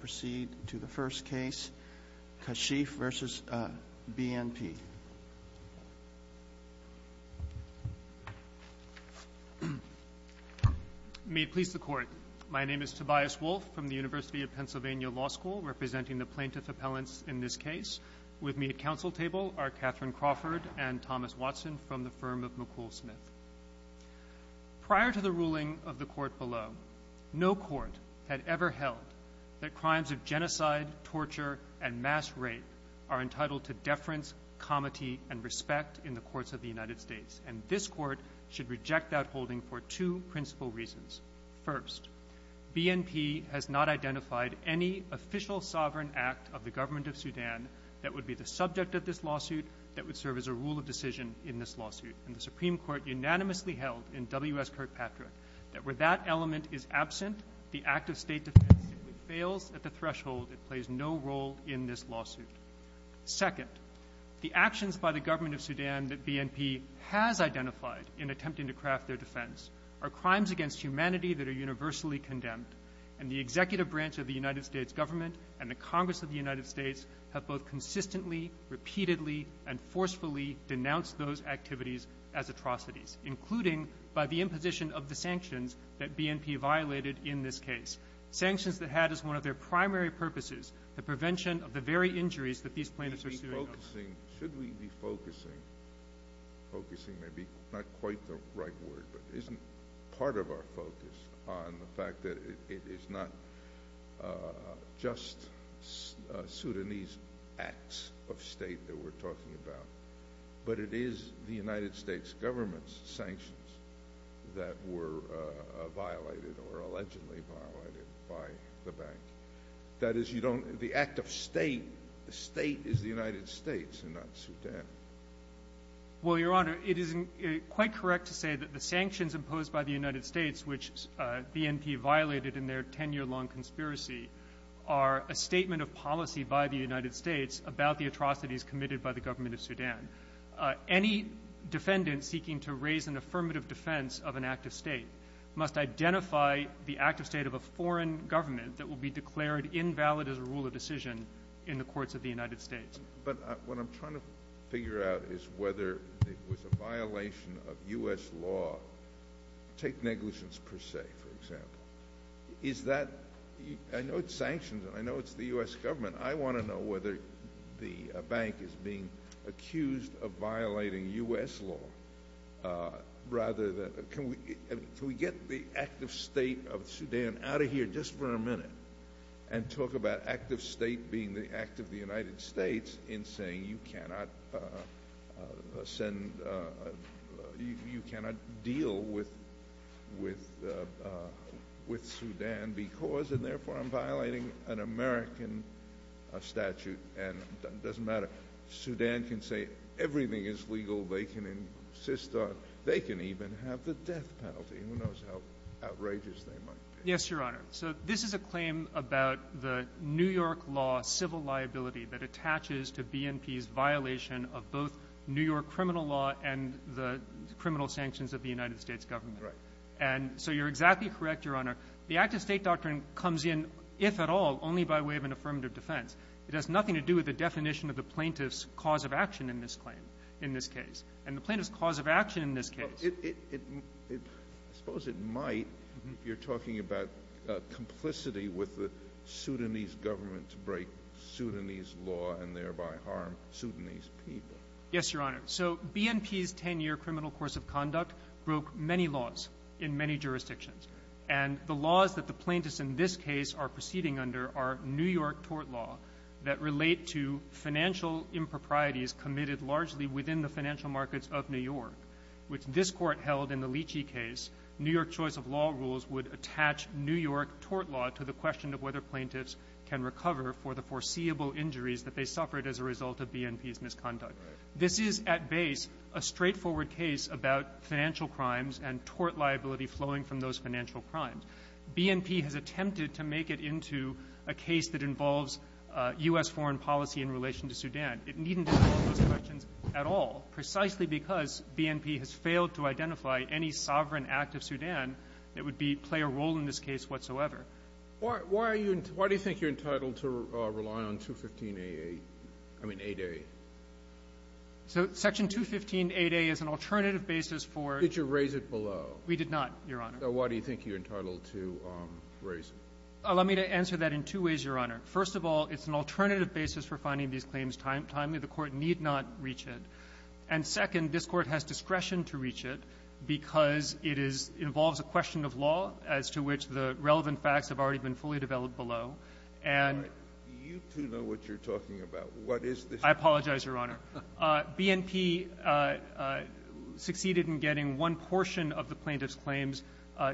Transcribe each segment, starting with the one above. Kashief v. BNP. May it please the Court, my name is Tobias Wolfe from the University of Pennsylvania Law School, representing the plaintiff appellants in this case. With me at council table are Catherine Crawford and Thomas Watson from the firm of McCool Smith. Prior to the ruling of the Court below, no court had ever held that crimes of genocide, torture, and mass rape are entitled to deference, comity, and respect in the courts of the United States, and this Court should reject that holding for two principal reasons. First, BNP has not identified any official sovereign act of the Government of Sudan that would be the subject of this lawsuit, that would serve as a rule of decision in this lawsuit, and the Supreme Court unanimously held in W.S. Kirkpatrick that where that element is absent, the act of state defense simply fails at the threshold. It plays no role in this lawsuit. Second, the actions by the Government of Sudan that BNP has identified in attempting to craft their defense are crimes against humanity that are universally condemned, and the executive branch of the United States Government and the Congress of the United States have both identified as atrocities, including by the imposition of the sanctions that BNP violated in this case, sanctions that had as one of their primary purposes the prevention of the very injuries that these plaintiffs are suing on. Should we be focusing, focusing may be not quite the right word, but isn't part of our focus on the fact that it is not just Sudanese acts of state that we're talking about, but it is the United States Government's sanctions that were violated or allegedly violated by the bank? That is, you don't, the act of state, the state is the United States and not Sudan. Well, Your Honor, it is quite correct to say that the sanctions imposed by the United States, which BNP violated in their ten-year-long conspiracy, are a statement of policy by the United States about the atrocities committed by the government of Sudan. Any defendant seeking to raise an affirmative defense of an act of state must identify the act of state of a foreign government that will be declared invalid as a rule of decision in the courts of the United States. But what I'm trying to figure out is whether it was a violation of U.S. law. Take negligence per se, for example. Is that, I know it's sanctions and I know it's the U.S. government. I want to know whether the bank is being accused of violating U.S. law rather than, can we get the act of state of Sudan out of here just for a minute and talk about act of state being the act of the United States in saying you cannot send, you cannot deal with Sudan because, and therefore I'm violating an American statute and it doesn't matter. Sudan can say everything is legal. They can insist on, they can even have the death penalty. Who knows how outrageous they might be. Yes, Your Honor. So this is a claim about the New York law civil liability that attaches to BNP's violation of both New York criminal law and the criminal sanctions of the United States government. Correct. And so you're exactly correct, Your Honor. The act of state doctrine comes in, if at all, only by way of an affirmative defense. It has nothing to do with the definition of the plaintiff's cause of action in this claim, in this case, and the plaintiff's cause of action in this case. I suppose it might if you're talking about complicity with the Sudanese government to break Sudanese law and thereby harm Sudanese people. Yes, Your Honor. So BNP's 10-year criminal course of conduct broke many laws in many jurisdictions. And the laws that the plaintiffs in this case are proceeding under are New York tort law that relate to financial improprieties committed largely within the financial markets of New York, which this Court held in the Leachy case, New York choice of law rules would attach New York tort law to the question of whether they suffered as a result of BNP's misconduct. Right. This is, at base, a straightforward case about financial crimes and tort liability flowing from those financial crimes. BNP has attempted to make it into a case that involves U.S. foreign policy in relation to Sudan. It needn't address those questions at all, precisely because BNP has failed to identify any sovereign act of Sudan that would play a role in this case whatsoever. Why do you think you're entitled to rely on 215AA? I mean, 8A. So Section 215AA is an alternative basis for ---- Did you raise it below? We did not, Your Honor. So why do you think you're entitled to raise it? Let me answer that in two ways, Your Honor. First of all, it's an alternative basis for finding these claims timely. The Court need not reach it. And second, this Court has discretion to reach it because it involves a question of law as to which of the relevant facts have already been fully developed below. And ---- All right. You two know what you're talking about. What is this ---- I apologize, Your Honor. BNP succeeded in getting one portion of the plaintiff's claims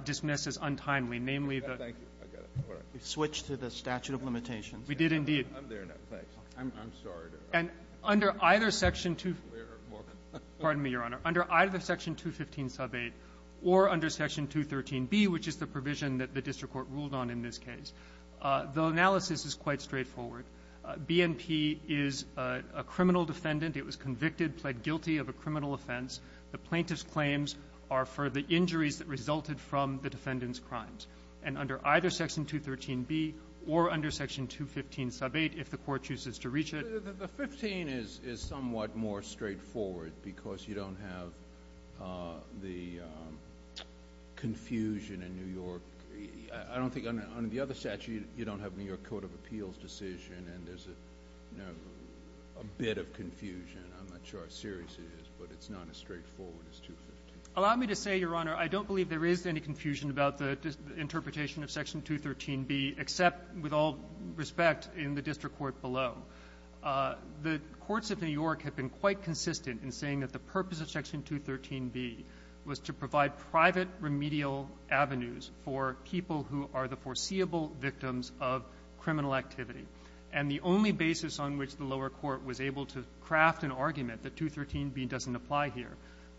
dismissed as untimely, namely the ---- Thank you. I got it. All right. We switched to the statute of limitations. We did, indeed. I'm there now. Thanks. I'm sorry to ---- And under either Section 215 ---- More. Pardon me, Your Honor. Under either Section 215 sub 8 or under Section 213B, which is the provision that the district court ruled on in this case, the analysis is quite straightforward. BNP is a criminal defendant. It was convicted, pled guilty of a criminal offense. The plaintiff's claims are for the injuries that resulted from the defendant's crimes. And under either Section 213B or under Section 215 sub 8, if the Court chooses to reach it ---- The 15 is somewhat more straightforward because you don't have the confusion in New York. I don't think under the other statute you don't have New York Court of Appeals decision, and there's a bit of confusion. I'm not sure how serious it is, but it's not as straightforward as 215. Allow me to say, Your Honor, I don't believe there is any confusion about the interpretation of Section 213B, except with all respect in the district court below. The courts of New York have been quite consistent in saying that the purpose of Section 213B is to provide remedial avenues for people who are the foreseeable victims of criminal activity. And the only basis on which the lower court was able to craft an argument that 213B doesn't apply here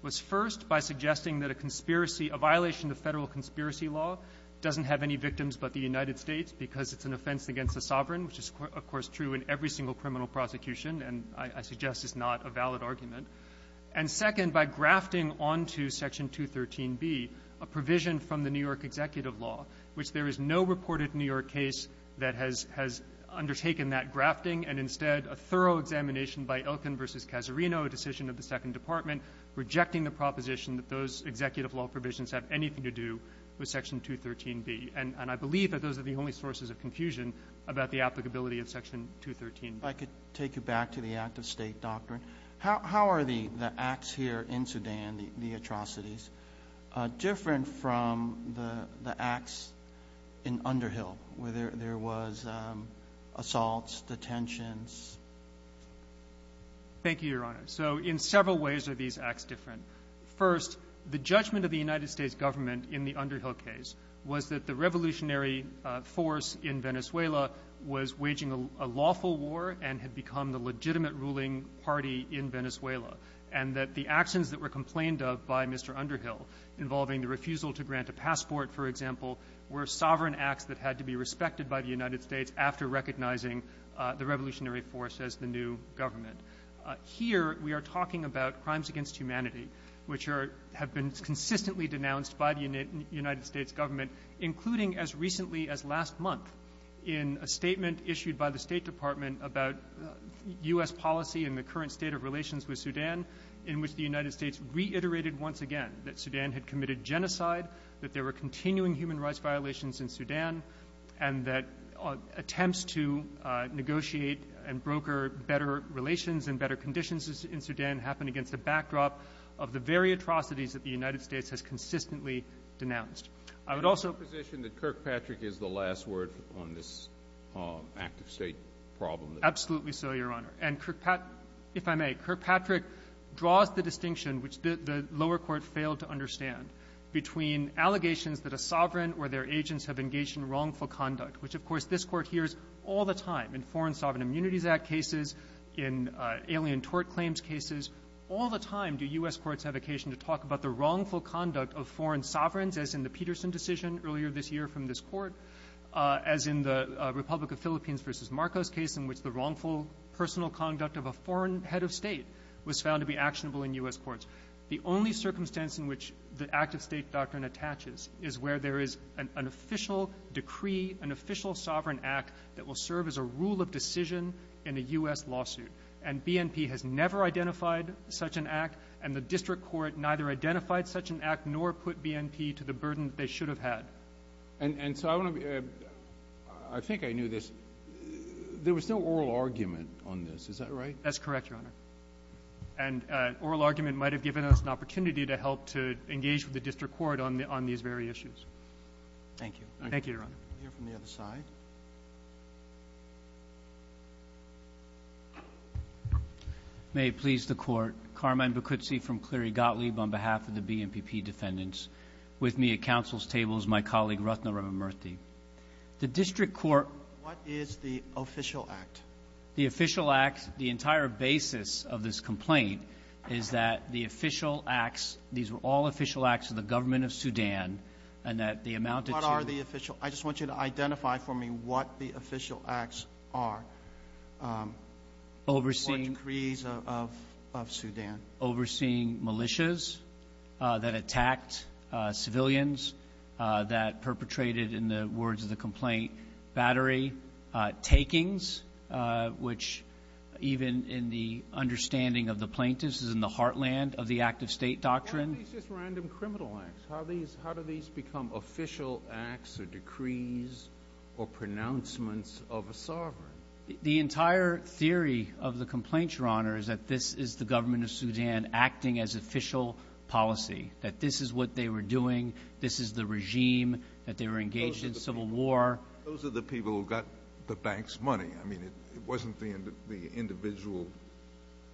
was first by suggesting that a conspiracy ---- a violation of Federal conspiracy law doesn't have any victims but the United Executive law, which there is no reported New York case that has undertaken that grafting, and instead a thorough examination by Elkin v. Casarino, a decision of the Second Department, rejecting the proposition that those Executive law provisions have anything to do with Section 213B. And I believe that those are the only sources of confusion about the applicability of Section 213B. I could take you back to the act-of-state doctrine. How are the acts here in Sudan, the atrocities, different from the acts in Underhill, where there was assaults, detentions? Thank you, Your Honor. So in several ways are these acts different. First, the judgment of the United States government in the Underhill case was that the revolutionary force in Venezuela was waging a lawful war and had become the And that the actions that were complained of by Mr. Underhill involving the refusal to grant a passport, for example, were sovereign acts that had to be respected by the United States after recognizing the revolutionary force as the new government. Here we are talking about crimes against humanity, which are ---- have been consistently denounced by the United States government, including as recently as last month in a statement issued by the State Department about U.S. policy and the current state of relations with Sudan, in which the United States reiterated once again that Sudan had committed genocide, that there were continuing human rights violations in Sudan, and that attempts to negotiate and broker better relations and better conditions in Sudan happened against a backdrop of the very atrocities that the United States has consistently denounced. I would also ---- The position that Kirkpatrick is the last word on this active state problem. Absolutely so, Your Honor. And Kirkpatrick ---- if I may, Kirkpatrick draws the distinction, which the lower court failed to understand, between allegations that a sovereign or their agents have engaged in wrongful conduct, which, of course, this Court hears all the time in Foreign Sovereign Immunities Act cases, in alien tort claims cases. All the time do U.S. courts have occasion to talk about the wrongful conduct of foreign Peterson decision earlier this year from this court, as in the Republic of Philippines v. Marcos case in which the wrongful personal conduct of a foreign head of state was found to be actionable in U.S. courts. The only circumstance in which the active state doctrine attaches is where there is an official decree, an official sovereign act that will serve as a rule of decision in a U.S. lawsuit. And BNP has never identified such an act, and the district court neither identified such an act nor put BNP to the burden that they should have had. And so I want to be ---- I think I knew this. There was no oral argument on this. Is that right? That's correct, Your Honor. And oral argument might have given us an opportunity to help to engage with the district court on these very issues. Thank you. Thank you, Your Honor. We'll hear from the other side. Thank you. May it please the Court. Carmine Bacuzzi from Cleary Gottlieb on behalf of the BNPP defendants. With me at counsel's table is my colleague, Rathna Ramamurthy. The district court ---- What is the official act? The official act, the entire basis of this complaint is that the official acts, these were all official acts of the government of Sudan, and that the amount that you ---- What are the official? I just want you to identify for me what the official acts are. Overseeing ---- Or decrees of Sudan. Overseeing militias that attacked civilians that perpetrated, in the words of the complaint, battery takings, which even in the understanding of the plaintiffs is in the heartland of the active state doctrine. Why are these just random criminal acts? How do these become official acts or decrees or pronouncements of a sovereign? The entire theory of the complaint, Your Honor, is that this is the government of Sudan acting as official policy, that this is what they were doing, this is the regime, that they were engaged in civil war. Those are the people who got the bank's money. I mean, it wasn't the individual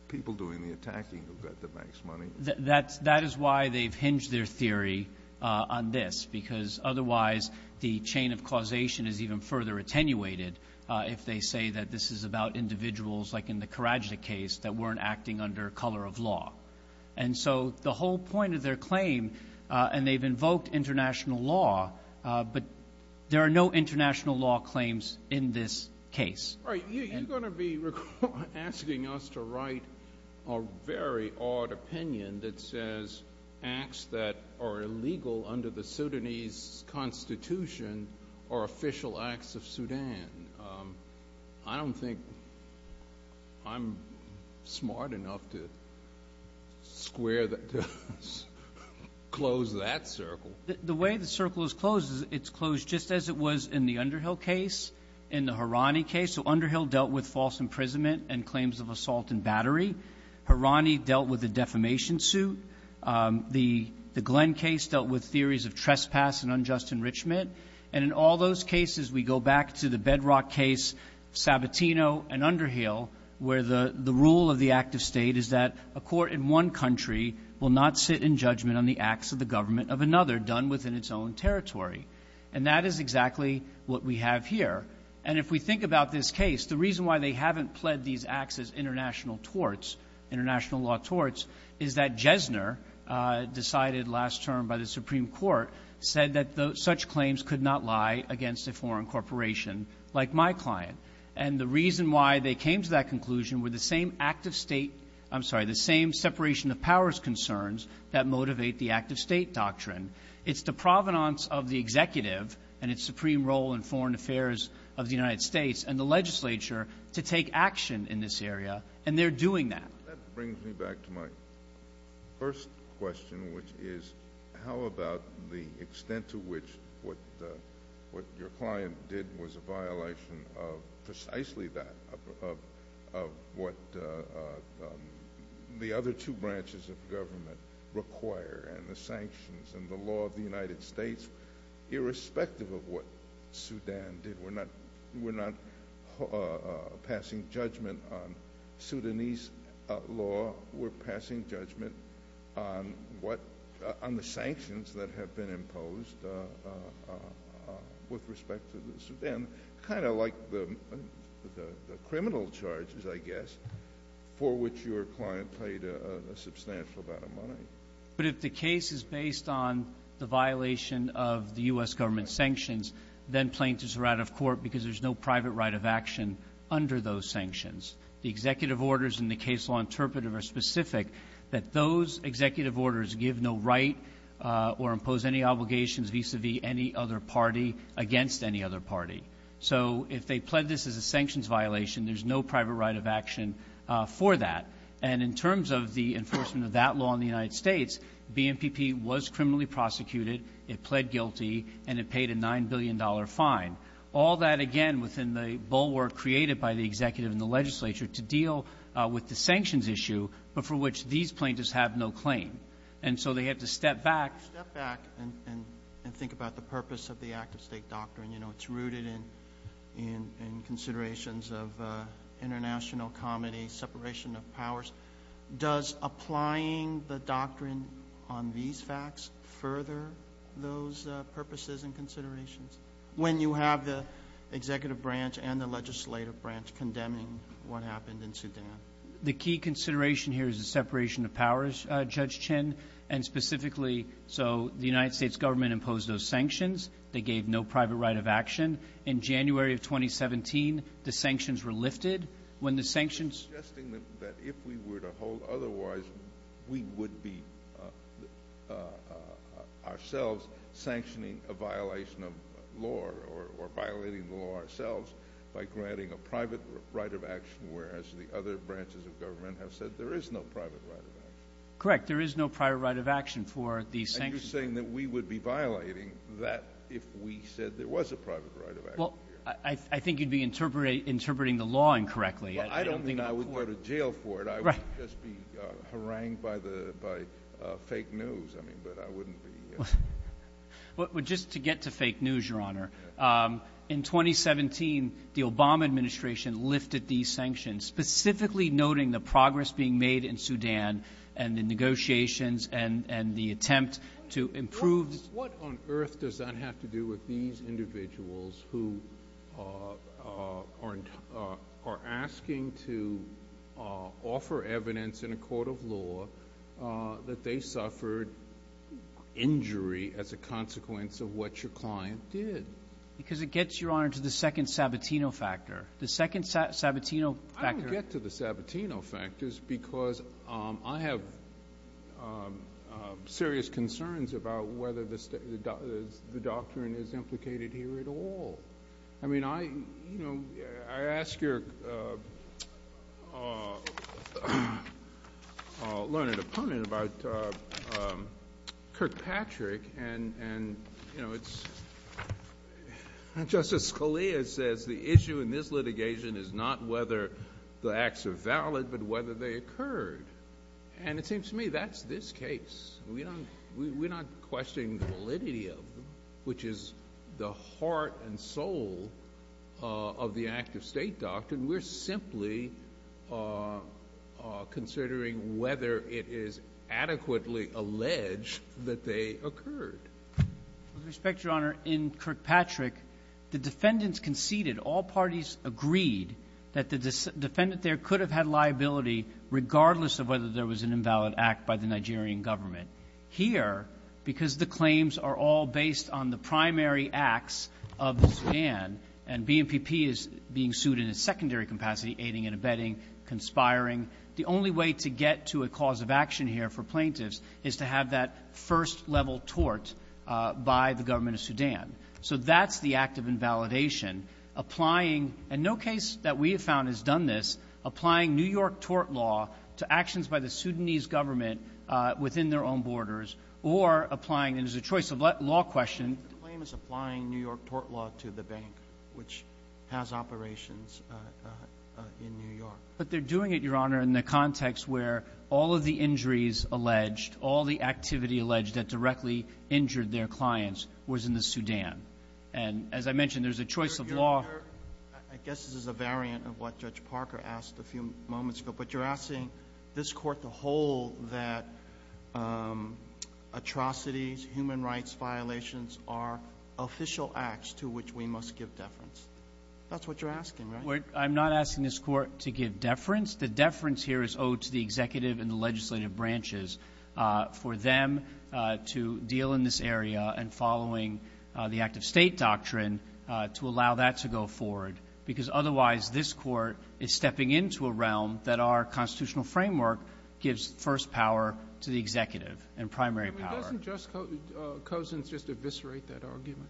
people doing the attacking who got the bank's money. That is why they've hinged their theory on this, because otherwise the chain of causation is even further attenuated if they say that this is about individuals, like in the Karadzic case, that weren't acting under color of law. And so the whole point of their claim, and they've invoked international law, but there are no international law claims in this case. You're going to be asking us to write a very odd opinion that says acts that are illegal under the Sudanese constitution are official acts of Sudan. I don't think I'm smart enough to square that, to close that circle. The way the circle is closed is it's closed just as it was in the Underhill case, in the Harani case. So Underhill dealt with false imprisonment and claims of assault and battery. Harani dealt with a defamation suit. The Glenn case dealt with theories of trespass and unjust enrichment. And in all those cases, we go back to the Bedrock case, Sabatino and Underhill, where the rule of the act of state is that a court in one country will not sit in judgment on the acts of the government of another done within its own territory. And that is exactly what we have here. And if we think about this case, the reason why they haven't pled these acts as international torts, international law torts, is that Jesner, decided last term by the Supreme Court, said that such claims could not lie against a foreign corporation like my client. And the reason why they came to that conclusion were the same separation of powers concerns that motivate the act of state doctrine. It's the provenance of the executive and its supreme role in foreign affairs of the United States and the legislature to take action in this area, and they're doing that. That brings me back to my first question, which is how about the extent to which what your client did was a violation of precisely that, of what the other two branches of government require and the sanctions and the law of the United States, irrespective of what Sudan did. We're not passing judgment on Sudanese law. We're passing judgment on the sanctions that have been imposed with respect to Sudan, kind of like the criminal charges, I guess, for which your client paid a substantial amount of money. But if the case is based on the violation of the U.S. government sanctions, then plaintiffs are out of court because there's no private right of action under those sanctions. The executive orders in the case law interpretive are specific that those executive orders give no right or impose any obligations vis-à-vis any other party against any other party. So if they pled this as a sanctions violation, there's no private right of action for that. And in terms of the enforcement of that law in the United States, BNPP was criminally prosecuted, it pled guilty, and it paid a $9 billion fine. All that, again, within the bulwark created by the executive and the legislature to deal with the sanctions issue, but for which these plaintiffs have no claim. And so they have to step back. Step back and think about the purpose of the act-of-state doctrine. You know, it's rooted in considerations of international comedy, separation of powers. Does applying the doctrine on these facts further those purposes and considerations when you have the executive branch and the legislative branch condemning what happened in Sudan? The key consideration here is the separation of powers, Judge Chin. And specifically, so the United States government imposed those sanctions. They gave no private right of action. In January of 2017, the sanctions were lifted. When the sanctions- You're suggesting that if we were to hold otherwise, we would be ourselves sanctioning a violation of law or violating the law ourselves by granting a private right of action, whereas the other branches of government have said there is no private right of action. Correct. There is no private right of action for the sanctions. You're saying that we would be violating that if we said there was a private right of action here. Well, I think you'd be interpreting the law incorrectly. Well, I don't mean I would go to jail for it. I would just be harangued by fake news. I mean, but I wouldn't be- Well, just to get to fake news, Your Honor, in 2017, the Obama administration lifted these sanctions, specifically noting the progress being made in Sudan and the negotiations and the attempt to improve- What on earth does that have to do with these individuals who are asking to offer evidence in a court of law that they suffered injury as a consequence of what your client did? Because it gets, Your Honor, to the second Sabatino factor. The second Sabatino factor- I don't get to the Sabatino factors because I have serious concerns about whether the doctrine is implicated here at all. I mean, I ask your learned opponent about Kirkpatrick, and, you know, it's- Justice Scalia says the issue in this litigation is not whether the acts are valid, but whether they occurred. And it seems to me that's this case. We're not questioning the validity of them, which is the heart and soul of the active state doctrine. We're simply considering whether it is adequately alleged that they occurred. With respect, Your Honor, in Kirkpatrick, the defendants conceded, all parties agreed, that the defendant there could have had liability regardless of whether there was an invalid act by the Nigerian government. Here, because the claims are all based on the primary acts of the Sudan, and BMPP is being sued in a secondary capacity, aiding and abetting, conspiring, the only way to get to a cause of action here for plaintiffs is to have that first-level tort by the government of Sudan. So that's the act of invalidation, applying, and no case that we have found has done this, applying New York tort law to actions by the Sudanese government within their own borders, or applying, and it's a choice of law question- The claim is applying New York tort law to the bank, which has operations in New York. But they're doing it, Your Honor, in the context where all of the injuries alleged, all the activity alleged that directly injured their clients was in the Sudan. And as I mentioned, there's a choice of law- Your Honor, I guess this is a variant of what Judge Parker asked a few moments ago, but you're asking this Court to hold that atrocities, human rights violations, are official acts to which we must give deference. That's what you're asking, right? I'm not asking this Court to give deference. The deference here is owed to the executive and the legislative branches for them to deal in this area and following the act-of-state doctrine to allow that to go forward, because otherwise this Court is stepping into a realm that our constitutional framework gives first power to the executive and primary power. I mean, doesn't Juskogin's just eviscerate that argument?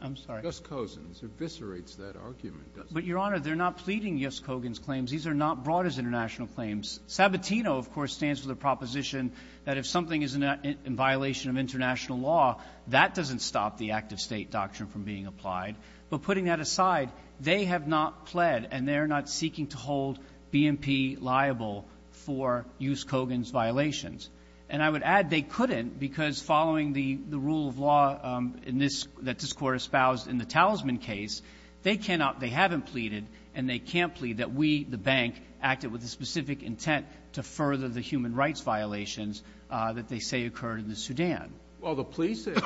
I'm sorry? Juskogin's eviscerates that argument, doesn't it? But, Your Honor, they're not pleading Juskogin's claims. These are not brought as international claims. Sabatino, of course, stands for the proposition that if something is in violation of international law, that doesn't stop the act-of-state doctrine from being applied. But putting that aside, they have not pled, and they are not seeking to hold BMP liable for Juskogin's violations. And I would add they couldn't because following the rule of law in this — that this Court espoused in the Talisman case, they cannot — they haven't pleaded, and they can't plead that we, the bank, acted with a specific intent to further the human rights violations that they say occurred in the Sudan. Well, the police said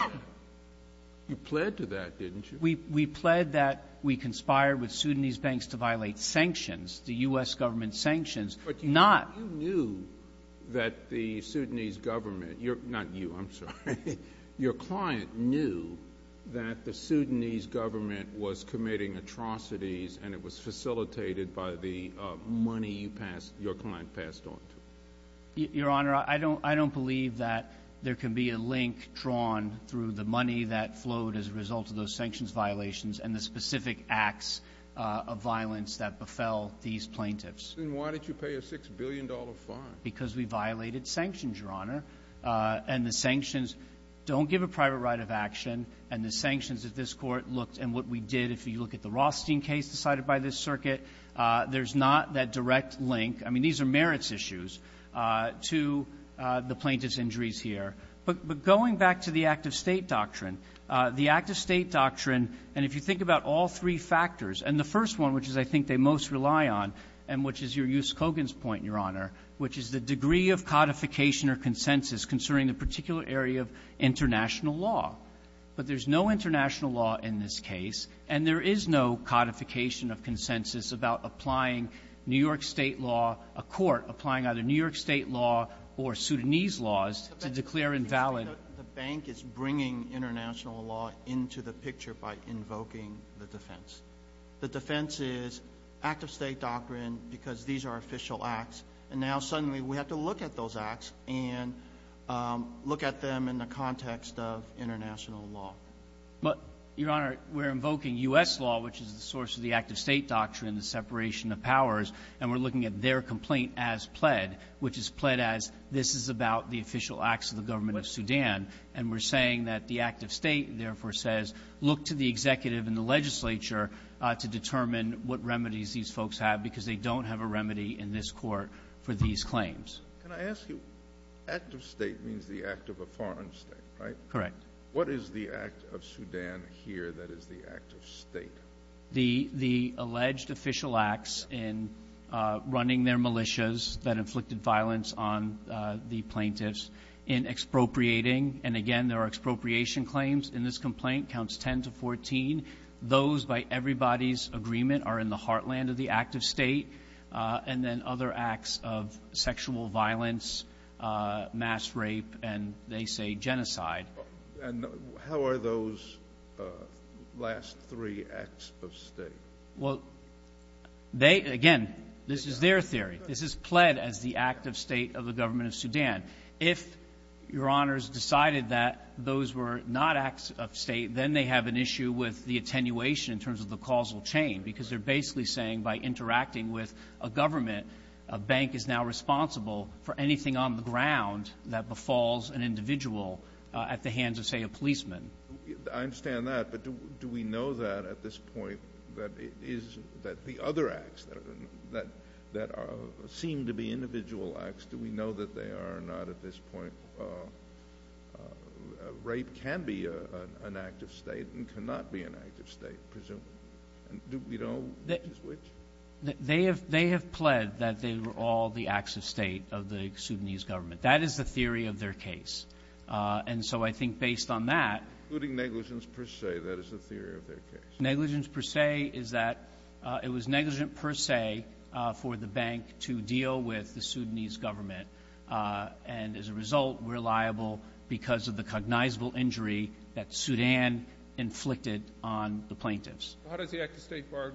you pled to that, didn't you? We pled that we conspired with Sudanese banks to violate sanctions, the U.S. government sanctions, not — Your client knew that the Sudanese government was committing atrocities, and it was facilitated by the money you passed — your client passed on to him. Your Honor, I don't believe that there can be a link drawn through the money that flowed as a result of those sanctions violations and the specific acts of violence that befell these plaintiffs. Then why did you pay a $6 billion fine? Because we violated sanctions, Your Honor. And the sanctions don't give a private right of action. And the sanctions that this Court looked and what we did, if you look at the Rothstein case decided by this circuit, there's not that direct link. I mean, these are merits issues to the plaintiff's injuries here. But going back to the act-of-state doctrine, the act-of-state doctrine, and if you think about all three factors, and the first one, which is I think they most rely on, and which is your Yuskogin's point, Your Honor, which is the degree of codification or consensus concerning a particular area of international law. But there's no international law in this case, and there is no codification of consensus about applying New York State law, a court applying either New York State law or Sudanese laws to declare invalid. The bank is bringing international law into the picture by invoking the defense. The defense is act-of-state doctrine because these are official acts. And now suddenly we have to look at those acts and look at them in the context of international law. But, Your Honor, we're invoking U.S. law, which is the source of the act-of-state doctrine, the separation of powers. And we're looking at their complaint as pled, which is pled as this is about the official acts of the government of Sudan. And we're saying that the act-of-state therefore says look to the executive and the legislature to determine what remedies these folks have because they don't have a remedy in this court for these claims. Can I ask you, act-of-state means the act of a foreign state, right? Correct. What is the act of Sudan here that is the act-of-state? The alleged official acts in running their militias that inflicted violence on the plaintiffs, in expropriating, and again, there are expropriation claims in this case. Those, by everybody's agreement, are in the heartland of the act-of-state. And then other acts of sexual violence, mass rape, and they say genocide. And how are those last three acts-of-state? Well, they, again, this is their theory. This is pled as the act-of-state of the government of Sudan. If Your Honors decided that those were not acts-of-state, then they have an issue with the attenuation in terms of the causal chain because they're basically saying by interacting with a government, a bank is now responsible for anything on the ground that befalls an individual at the hands of, say, a policeman. I understand that, but do we know that at this point that it is that the other acts that seem to be individual acts, do we know that they are not at this point that rape can be an act-of-state and cannot be an act-of-state, presumably? Do we know which is which? They have pled that they were all the acts-of-state of the Sudanese government. That is the theory of their case. And so I think based on that. Including negligence per se, that is the theory of their case. Negligence per se is that it was negligent per se for the bank to deal with the Sudanese government, and as a result, we're liable because of the cognizable injury that Sudan inflicted on the plaintiffs. How does the act-of-state bar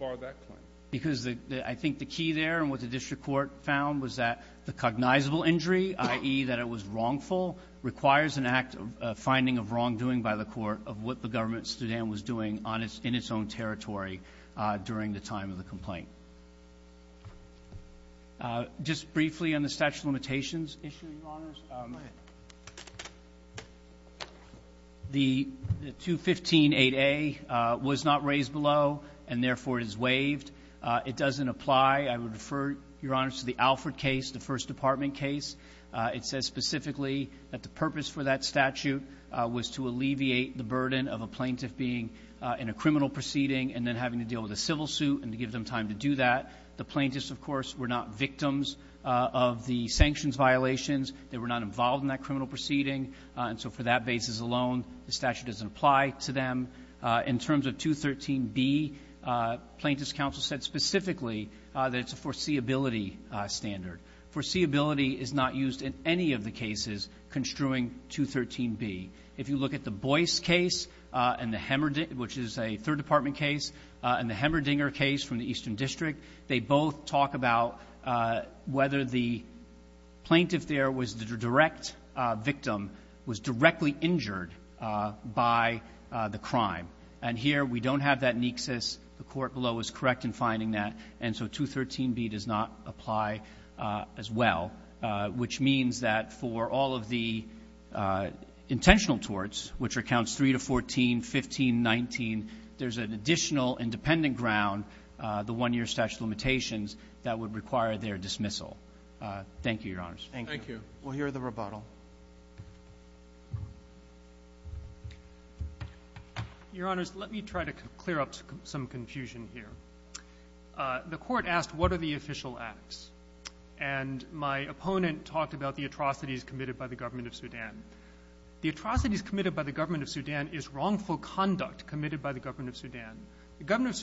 that claim? Because I think the key there and what the district court found was that the cognizable injury, i.e., that it was wrongful, requires an act of finding of wrongdoing by the court of what the government of Sudan was doing in its own territory during the time of the complaint. Just briefly on the statute of limitations issue, Your Honors. Go ahead. The 215-8A was not raised below and, therefore, is waived. It doesn't apply. I would refer, Your Honors, to the Alfred case, the first department case. It says specifically that the purpose for that statute was to alleviate the burden of a plaintiff being in a criminal proceeding and then having to deal with a civil suit and to give them time to do that. The plaintiffs, of course, were not victims of the sanctions violations. They were not involved in that criminal proceeding. And so for that basis alone, the statute doesn't apply to them. In terms of 213-B, plaintiffs' counsel said specifically that it's a foreseeability standard. Foreseeability is not used in any of the cases construing 213-B. If you look at the Boyce case and the Hemmerdinger, which is a third department case, and the Hemmerdinger case from the Eastern District, they both talk about whether the plaintiff there was the direct victim, was directly injured by the crime. And here we don't have that nexus. The court below is correct in finding that. And so 213-B does not apply as well, which means that for all of the intentional torts, which are counts 3 to 14, 15, 19, there's an additional independent ground, the one-year statute of limitations, that would require their dismissal. Thank you, Your Honors. Thank you. Thank you. We'll hear the rebuttal. Your Honors, let me try to clear up some confusion here. The Court asked what are the official acts. And my opponent talked about the atrocities committed by the government of Sudan. The atrocities committed by the government of Sudan is wrongful conduct committed by the government of Sudan. The government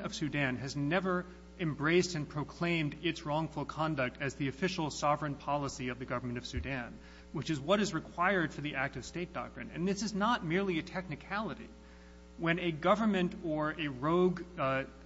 of Sudan has never embraced and proclaimed its wrongful conduct as the official sovereign policy of the government of Sudan, which is what is required for the act-of-state doctrine. And this is not merely a technicality. When a government or a rogue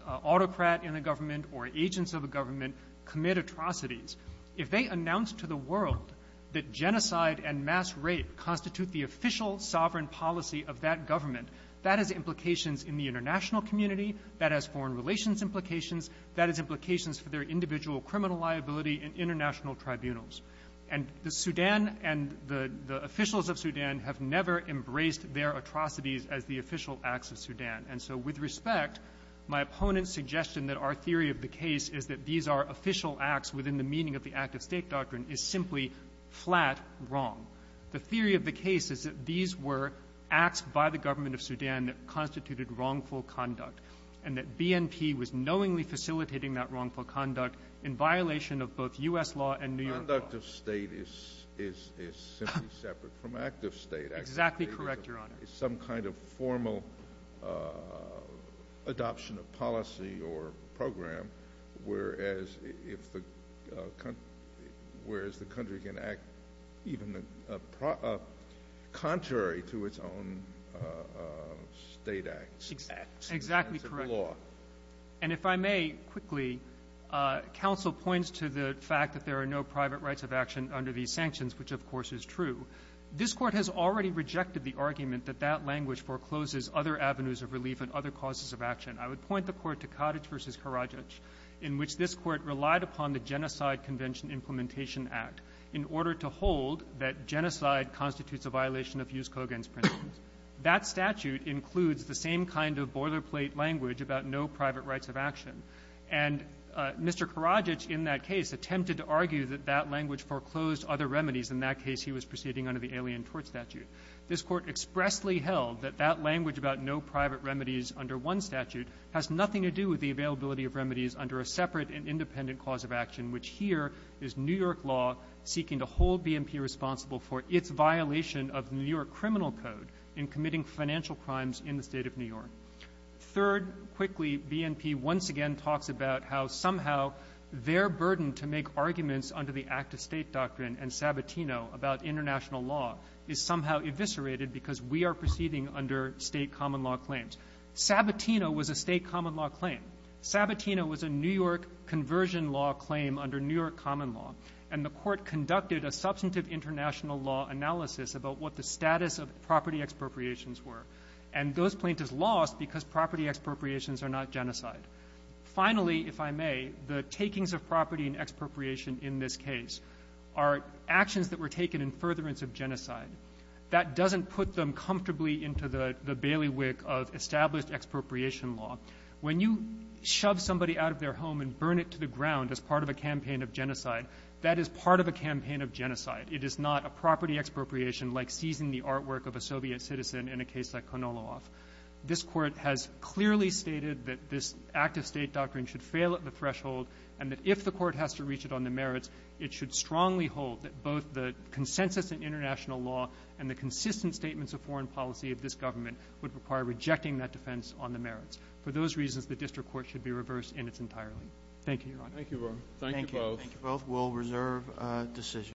autocrat in a government or agents of a government commit atrocities, if they announce to the world that genocide and mass rape constitute the official sovereign policy of that government, that has implications in the international community, that has foreign relations implications, that has implications for their individual criminal liability in international tribunals. And the Sudan and the officials of Sudan have never embraced their atrocities as the official acts of Sudan. And so, with respect, my opponent's suggestion that our theory of the case is that these are official acts within the meaning of the act-of-state doctrine is simply flat wrong. The theory of the case is that these were acts by the government of Sudan that constituted wrongful conduct and that BNP was knowingly facilitating that wrongful conduct in violation of both U.S. law and New York law. The conduct of state is simply separate from act-of-state. Exactly correct, Your Honor. It's some kind of formal adoption of policy or program, whereas the country can act even contrary to its own state acts. Exactly correct. And if I may quickly, counsel points to the fact that there are no private rights of action under these sanctions, which, of course, is true. This Court has already rejected the argument that that language forecloses other avenues of relief and other causes of action. I would point the Court to Cottage v. Karadzic, in which this Court relied upon the Genocide Convention Implementation Act in order to hold that genocide constitutes a violation of Jus cogens principles. That statute includes the same kind of boilerplate language about no private rights of action. And Mr. Karadzic in that case attempted to argue that that language foreclosed other remedies. In that case, he was proceeding under the Alien Tort Statute. This Court expressly held that that language about no private remedies under one statute has nothing to do with the availability of remedies under a separate and independent cause of action, which here is New York law seeking to hold BNP responsible for its violation of New York criminal code in committing financial crimes in the State of New York. Third, quickly, BNP once again talks about how somehow their burden to make arguments under the Act of State Doctrine and Sabatino about international law is somehow eviscerated because we are proceeding under State common law claims. Sabatino was a State common law claim. Sabatino was a New York conversion law claim under New York common law. And the Court conducted a substantive international law analysis about what the status of property expropriations were. And those plaintiffs lost because property expropriations are not genocide. Finally, if I may, the takings of property and expropriation in this case are actions that were taken in furtherance of genocide. That doesn't put them comfortably into the bailiwick of established expropriation law. When you shove somebody out of their home and burn it to the ground as part of a campaign of genocide, that is part of a campaign of genocide. It is not a property expropriation like seizing the artwork of a Soviet citizen in a case like Konolov. This Court has clearly stated that this Act of State Doctrine should fail at the threshold and that if the Court has to reach it on the merits, it should strongly hold that both the consensus in international law and the consistent statements of foreign policy of this government would require rejecting that defense on the merits. For those reasons, the district court should be reversed in its entirety. Thank you, Your Honor. Thank you, Ron. Thank you both. Thank you both. We'll reserve decisions.